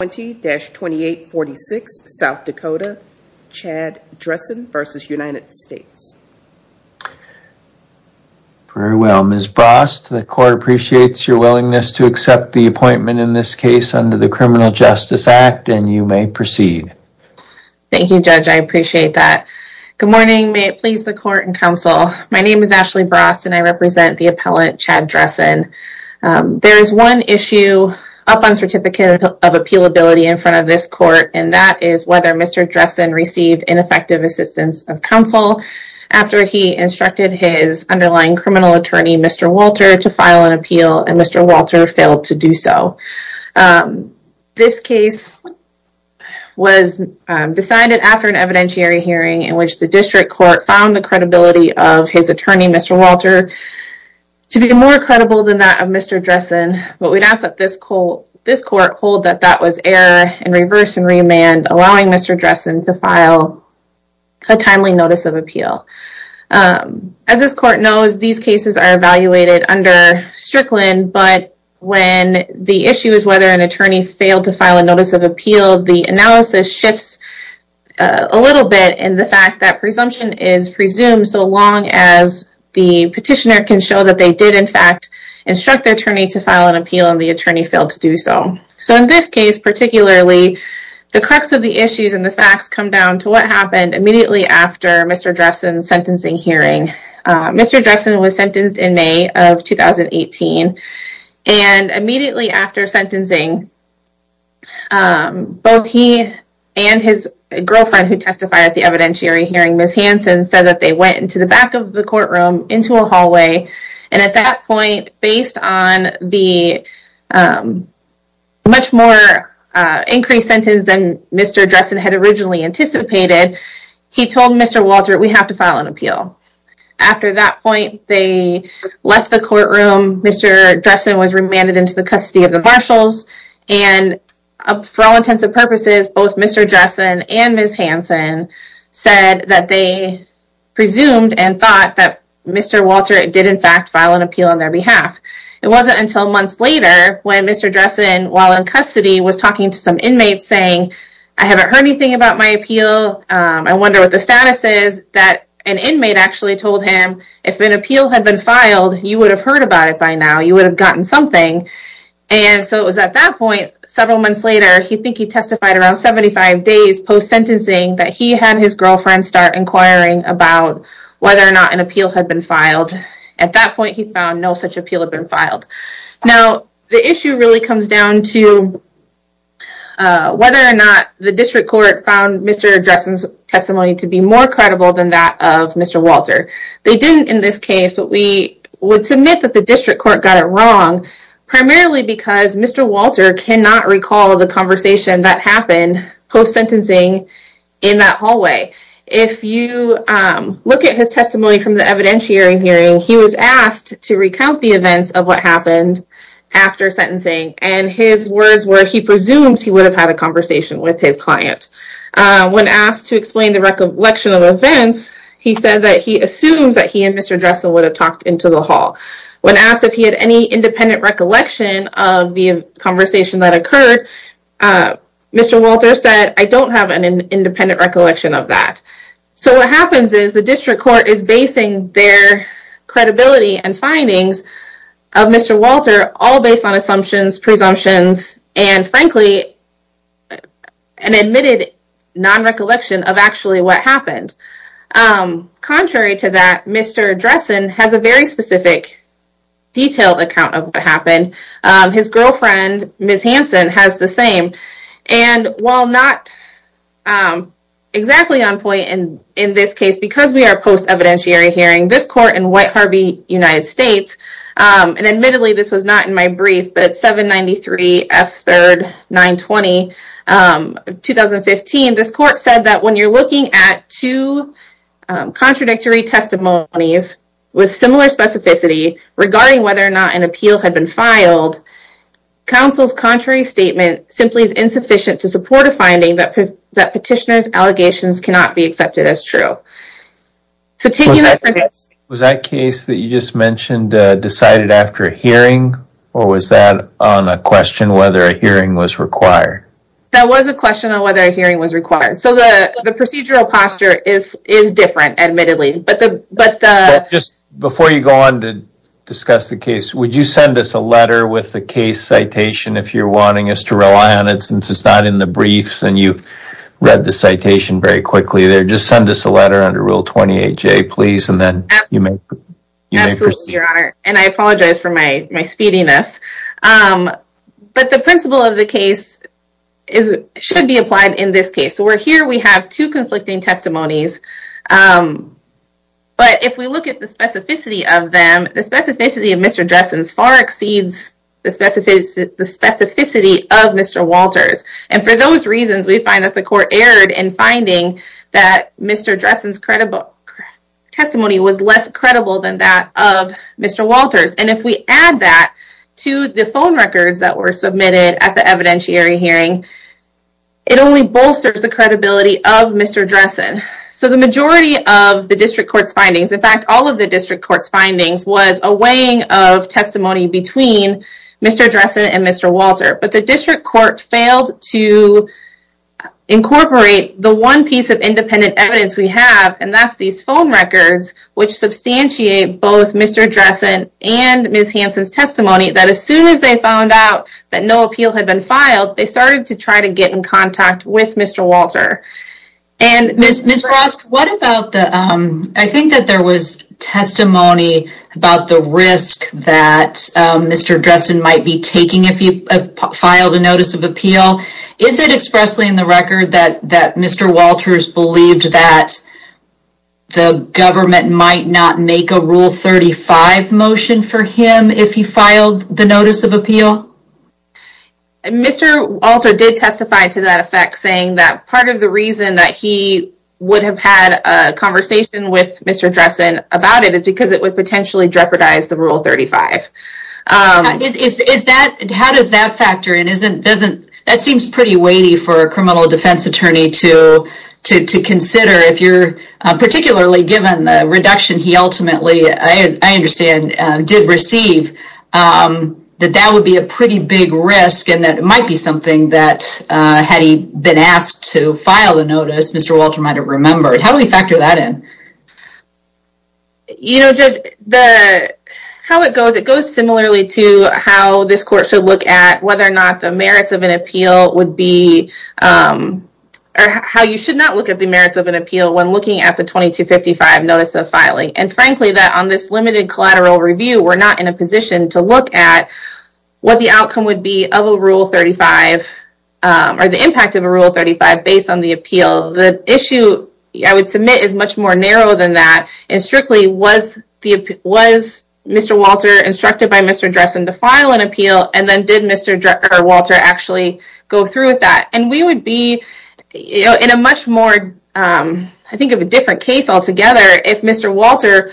20-2846 South Dakota Chad Dressen versus United States. Very well Ms. Brost, the court appreciates your willingness to accept the appointment in this case under the Criminal Justice Act and you may proceed. Thank you judge I appreciate that. Good morning may it please the court and counsel my name is Ashley Brost and I represent the appellant Chad Dressen. There is one issue up on Certificate of Appealability in front of this court and that is whether Mr. Dressen received ineffective assistance of counsel after he instructed his underlying criminal attorney Mr. Walter to file an appeal and Mr. Walter failed to do so. This case was decided after an evidentiary hearing in which the district court found the credibility of his attorney Mr. Walter to be more credible than that of Mr. Dressen but we'd ask that this court hold that that was error and reverse and remand allowing Mr. Dressen to file a timely notice of appeal. As this court knows these cases are evaluated under Strickland but when the issue is whether an attorney failed to file a notice of appeal the analysis shifts a little bit in the fact that can show that they did in fact instruct their attorney to file an appeal and the attorney failed to do so. So in this case particularly the crux of the issues and the facts come down to what happened immediately after Mr. Dressen's sentencing hearing. Mr. Dressen was sentenced in May of 2018 and immediately after sentencing both he and his girlfriend who testified at the evidentiary hearing Ms. Hanson said that they went into the back of the courtroom into a hallway and at that point based on the much more increased sentence than Mr. Dressen had originally anticipated he told Mr. Walter we have to file an appeal. After that point they left the courtroom Mr. Dressen was remanded into the custody of the marshals and for all intents and purposes both Mr. Dressen and Ms. Hanson said that they presumed and thought that Mr. Walter did in fact file an appeal on their behalf. It wasn't until months later when Mr. Dressen while in custody was talking to some inmates saying I haven't heard anything about my appeal I wonder what the status is that an inmate actually told him if an appeal had been filed you would have heard about it by now you would have gotten something and so it was at that point several months later he think he testified around 75 days post sentencing that he had his girlfriend start inquiring about whether or not an appeal had been filed. At that point he found no such appeal had been filed. Now the issue really comes down to whether or not the district court found Mr. Dressen's testimony to be more credible than that of Mr. Walter. They didn't in this case but we would submit that the district court got it wrong primarily because Mr. Walter cannot recall the conversation that happened post sentencing in that hallway. If you look at his testimony from the evidentiary hearing he was asked to recount the events of what happened after sentencing and his words were he presumed he would have had a conversation with his client. When asked to explain the recollection of events he said that he assumes that he and Mr. Dressen would have talked into the hall. When asked if he had any independent recollection of the Mr. Walter said I don't have an independent recollection of that. So what happens is the district court is basing their credibility and findings of Mr. Walter all based on assumptions presumptions and frankly an admitted non-recollection of actually what happened. Contrary to that Mr. Dressen has a very specific detailed account of what happened. His girlfriend Ms. Hanson has the same and while not exactly on point in in this case because we are post evidentiary hearing this court in White Harvey United States and admittedly this was not in my brief but 793 F 3rd 920 2015 this court said that when you're looking at two contradictory testimonies with similar specificity regarding whether or not an appeal had been filed counsel's contrary statement simply is insufficient to support a finding that that petitioners allegations cannot be accepted as true. Was that case that you just mentioned decided after hearing or was that on a question whether a hearing was required? That was a question on whether a hearing was required so the the procedural posture is is different admittedly but the but just before you go on to discuss the case would you send us a letter with the case citation if you're wanting us to rely on it since it's not in the briefs and you read the citation very quickly there just send us a letter under rule 28 J please and then you may and I apologize for my my speediness but the principle of the case is it should be applied in this case so we're here we have two conflicting testimonies but if we look at the specificity of them the specificity of Mr. Dressen's far exceeds the specificity of Mr. Walters and for those reasons we find that the court erred in finding that Mr. Dressen's credible testimony was less credible than that of Mr. Walters and if we add that to the phone records that were submitted at the evidentiary hearing it only bolsters the credibility of Mr. Dressen so the majority of the district court's findings in fact all of the district court's findings was a weighing of testimony between Mr. Dressen and Mr. Walter but the district court failed to incorporate the one piece of independent evidence we have and that's these phone records which substantiate both Mr. Dressen and Ms. Hanson's testimony that as soon as they found out that no appeal had been filed they started to try to get in contact with Mr. Walter and Ms. Ross what about the I think that there was testimony about the risk that Mr. Dressen might be taking if you filed a notice of appeal is it expressly in the record that that Mr. Walters believed that the government might not make a rule 35 motion for him if he filed the notice of appeal Mr. Walter did testify to that effect saying that part of the reason that he would have had a conversation with Mr. Dressen about it is because it would potentially jeopardize the rule 35 is that how does that factor it isn't doesn't that seems pretty weighty for a criminal defense attorney to to consider if you're particularly given the reduction he ultimately I understand did receive that that would be a pretty big risk and that might be something that had he been asked to file the notice Mr. Walter might have remembered how do we factor that in you know just the how it goes it goes similarly to how this court should look at whether or not the merits of an appeal would be how you should not look at the merits of an appeal when looking at the 2255 notice of filing and frankly that on this limited collateral review we're not in a position to look at what the outcome would be of a rule 35 or the impact of a rule 35 based on the appeal the issue I would submit is much more narrow than that and strictly was the was Mr. Walter instructed by Mr. Dressen to file an appeal and then did Mr. Walter actually go through with that and we would be in a much more I think of a different case altogether if Mr. Walter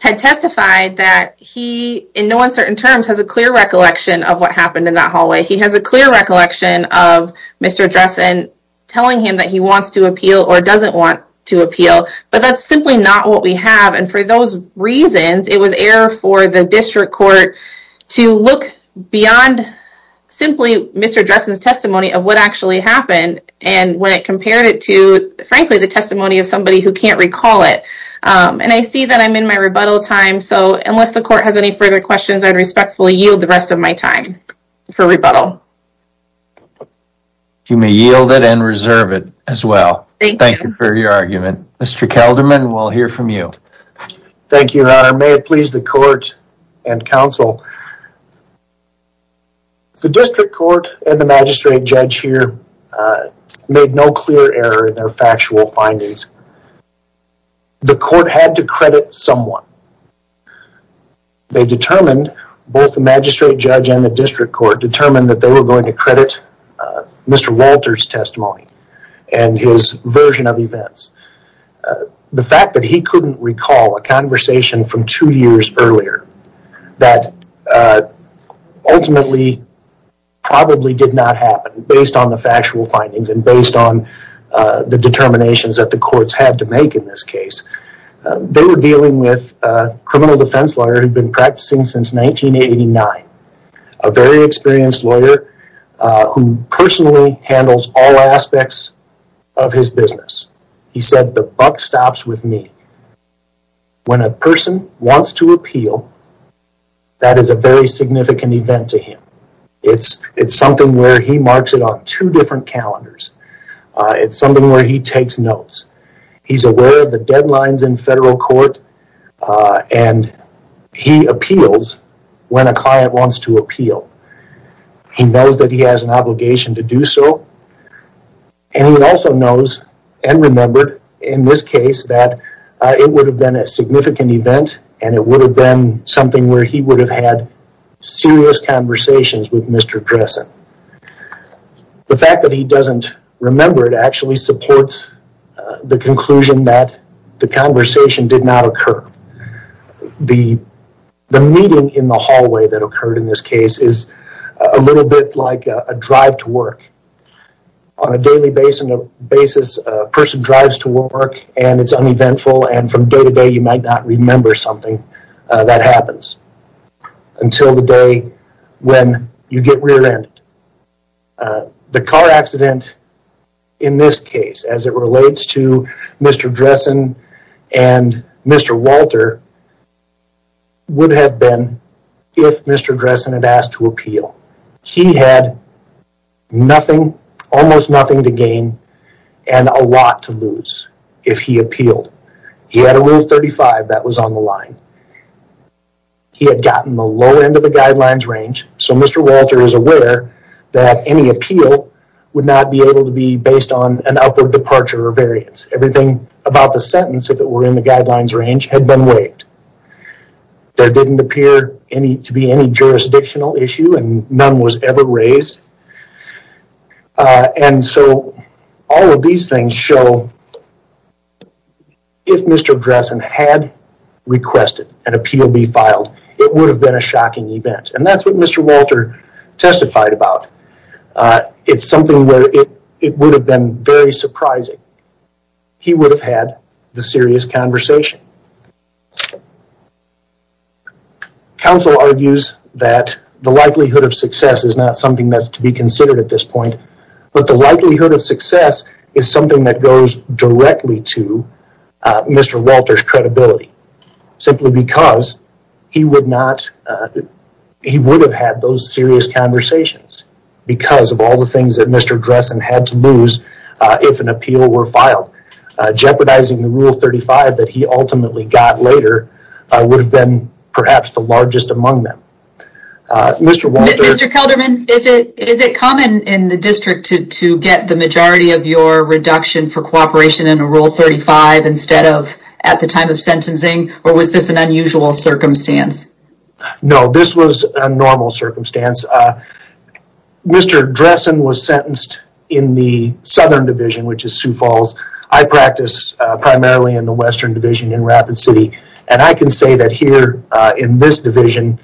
had testified that he in no uncertain terms has a clear recollection of what happened in that hallway he has a clear recollection of Mr. Dressen telling him that he wants to appeal or doesn't want to appeal but that's simply not what we have and for those reasons it was error for the district court to look beyond simply Mr. Dressen's testimony of what actually happened and when it compared it to frankly the testimony of somebody who can't recall it and I see that I'm in my rebuttal time so unless the court has any further questions I'd respectfully yield the rest of my time for rebuttal you may yield it and reserve it as well thank you for your argument mr. Kelderman we'll hear from you thank you may it please the court and counsel the district court and the magistrate judge here made no clear error in their factual findings the court had to credit someone they determined both the magistrate judge and the district court determined that they were going to credit mr. Walters testimony and his couldn't recall a conversation from two years earlier that ultimately probably did not happen based on the factual findings and based on the determinations that the courts had to make in this case they were dealing with criminal defense lawyer who'd been practicing since 1989 a very experienced lawyer who personally handles all aspects of his business he said the buck stops with me when a person wants to appeal that is a very significant event to him it's it's something where he marks it on two different calendars it's something where he takes notes he's aware of the deadlines in federal court and he appeals when a client wants to appeal he knows that he has an obligation to do so and he also knows and remembered in this case that it would have been a significant event and it would have been something where he would have had serious conversations with mr. Dressen the fact that he doesn't remember it actually supports the conclusion that the conversation did not occur the the meeting in the hallway that occurred in this case is a little bit like a drive to work on a daily basis a person drives to work and it's uneventful and from day to day you might not remember something that happens until the day when you get rear-ended the car accident in this case as it relates to mr. Dressen and mr. Walter would have been if mr. Dressen had asked to appeal he had nothing almost nothing to gain and a lot to lose if he appealed he had a roof 35 that was on the line he had gotten the lower end of the guidelines range so mr. Walter is aware that any appeal would not be able to be based on an upward departure or variance everything about the sentence if it were in the guidelines range had been waived there didn't appear any to be any jurisdictional issue and none was ever raised and so all of these things show if mr. Dressen had requested an appeal be filed it would have been a shocking event and that's what mr. Walter testified about it's something where it would have been very surprising he would have had the serious conversation counsel argues that the likelihood of success is not something that's to be considered at this point but the likelihood of success is something that goes directly to mr. Walters credibility simply because he would not he would have had those serious conversations because of all the things that mr. Dressen had to lose if an appeal were filed jeopardizing the rule 35 that he ultimately got later I would have been perhaps the largest among them mr. Walter is it common in the district to get the majority of your reduction for cooperation in a rule 35 instead of at the time of sentencing or was this an unusual circumstance no this was a normal circumstance mr. Dressen was sentenced in the Southern Division which is Sioux Falls I practice primarily in the Western Division in Rapid City and I can say that here in this division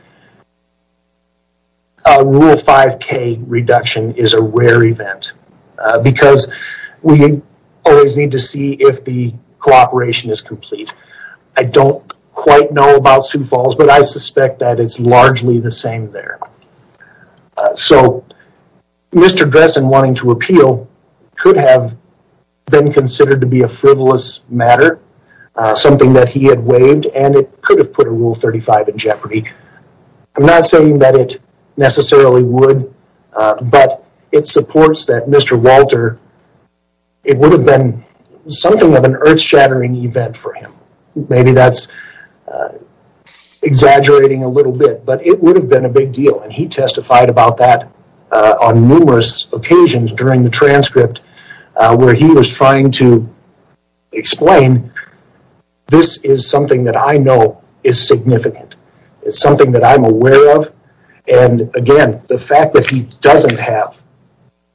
rule 5k reduction is a rare event because we always need to see if the cooperation is complete I don't quite know about Sioux Falls but I wanted to appeal could have been considered to be a frivolous matter something that he had waived and it could have put a rule 35 in jeopardy I'm not saying that it necessarily would but it supports that mr. Walter it would have been something of an earth-shattering event for him maybe that's exaggerating a little bit but it would have been a big deal and he during the transcript where he was trying to explain this is something that I know is significant it's something that I'm aware of and again the fact that he doesn't have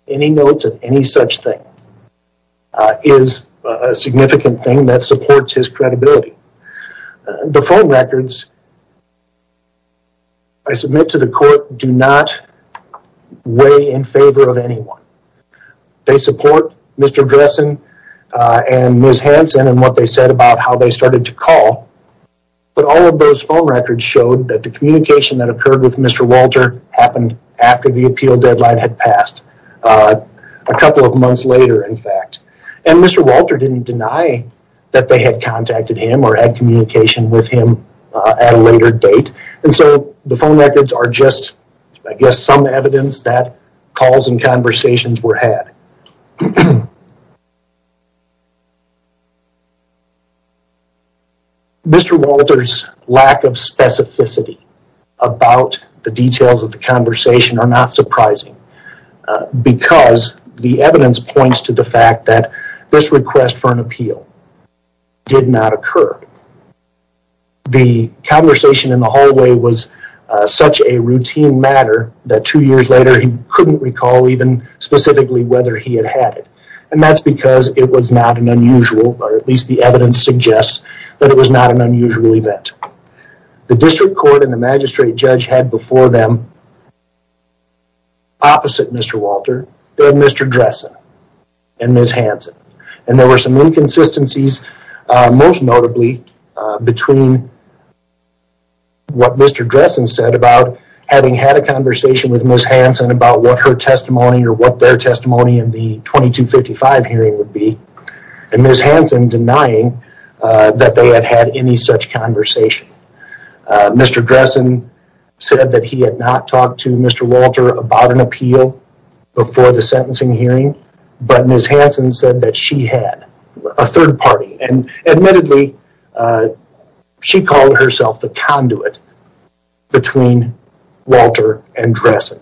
any notes of any such thing is a significant thing that supports his credibility the phone records I submit to the court do not weigh in favor of anyone they support mr. Dressen and ms. Hanson and what they said about how they started to call but all of those phone records showed that the communication that occurred with mr. Walter happened after the appeal deadline had passed a couple of months later in fact and mr. Walter didn't deny that they had contacted him or had communication with him at a later date and so the phone records are just I guess some evidence that calls and conversations were had mr. Walters lack of specificity about the details of the conversation are not surprising because the evidence points to the fact that this request for an was such a routine matter that two years later he couldn't recall even specifically whether he had had it and that's because it was not an unusual or at least the evidence suggests that it was not an unusual event the district court and the magistrate judge had before them opposite mr. Walter then mr. Dressen and ms. Hanson and there were some inconsistencies most notably between what mr. Dressen said about having had a conversation with ms. Hanson about what her testimony or what their testimony in the 2255 hearing would be and ms. Hanson denying that they had had any such conversation mr. Dressen said that he had not talked to mr. Walter about an appeal before the sentencing hearing but ms. Hanson said that she had a third party and admittedly she called herself the conduit between Walter and Dressen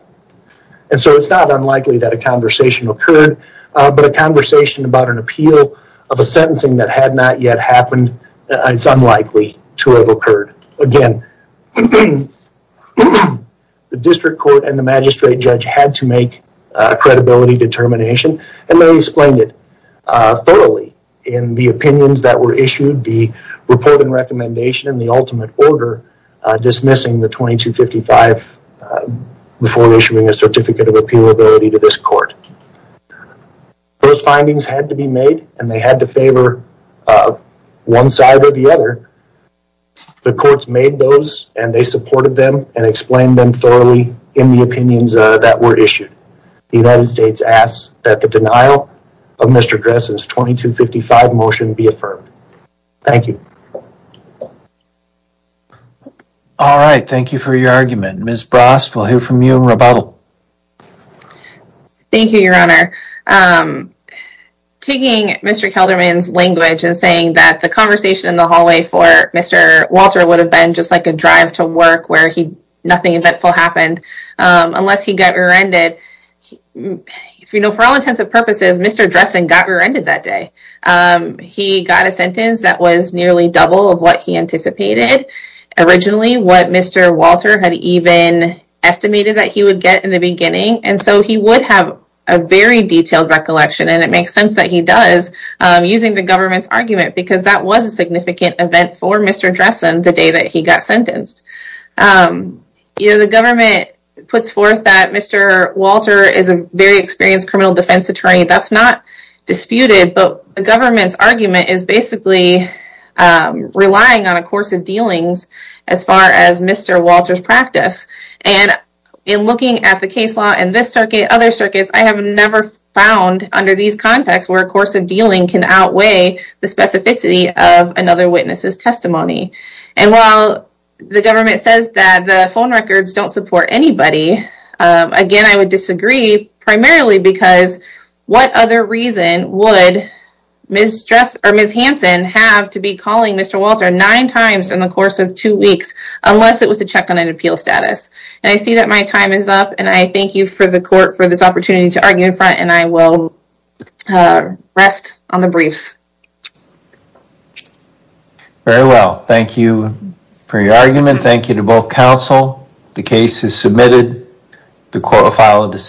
and so it's not unlikely that a conversation occurred but a conversation about an appeal of a sentencing that had not yet happened it's unlikely to have occurred again the district court and the magistrate judge had to make a credibility determination and they explained it thoroughly in the opinions that were issued the report and recommendation in the ultimate order dismissing the 2255 before issuing a certificate of appeal ability to this court those findings had to be made and they had to favor one side or the other the courts made those and they supported them and explained them thoroughly in the opinions that were issued the United States asked that the denial of mr. 255 motion be affirmed thank you all right thank you for your argument miss Brass will hear from you in rebuttal thank you your honor taking mr. Kelderman's language and saying that the conversation in the hallway for mr. Walter would have been just like a drive to work where he nothing eventful happened unless he got rear-ended if you know for all intents and purposes mr. Dressen got rear-ended that day he got a sentence that was nearly double of what he anticipated originally what mr. Walter had even estimated that he would get in the beginning and so he would have a very detailed recollection and it makes sense that he does using the government's argument because that was a significant event for mr. Dressen the day that he got sentenced you know the government puts forth that mr. Walter is a very experienced criminal defense attorney that's not disputed but the government's argument is basically relying on a course of dealings as far as mr. Walters practice and in looking at the case law and this circuit other circuits I have never found under these contexts where a course of dealing can outweigh the specificity of another witness's testimony and while the government says that the phone records don't support anybody again I would disagree primarily because what other reason would miss stress or miss Hansen have to be calling mr. Walter nine times in the course of two weeks unless it was a check on an appeal status and I see that my time is up and I thank you for the court for this opportunity to argue in front and I will rest on the briefs very well thank you for your argument thank you to both counsel the case is submitted the court will file a decision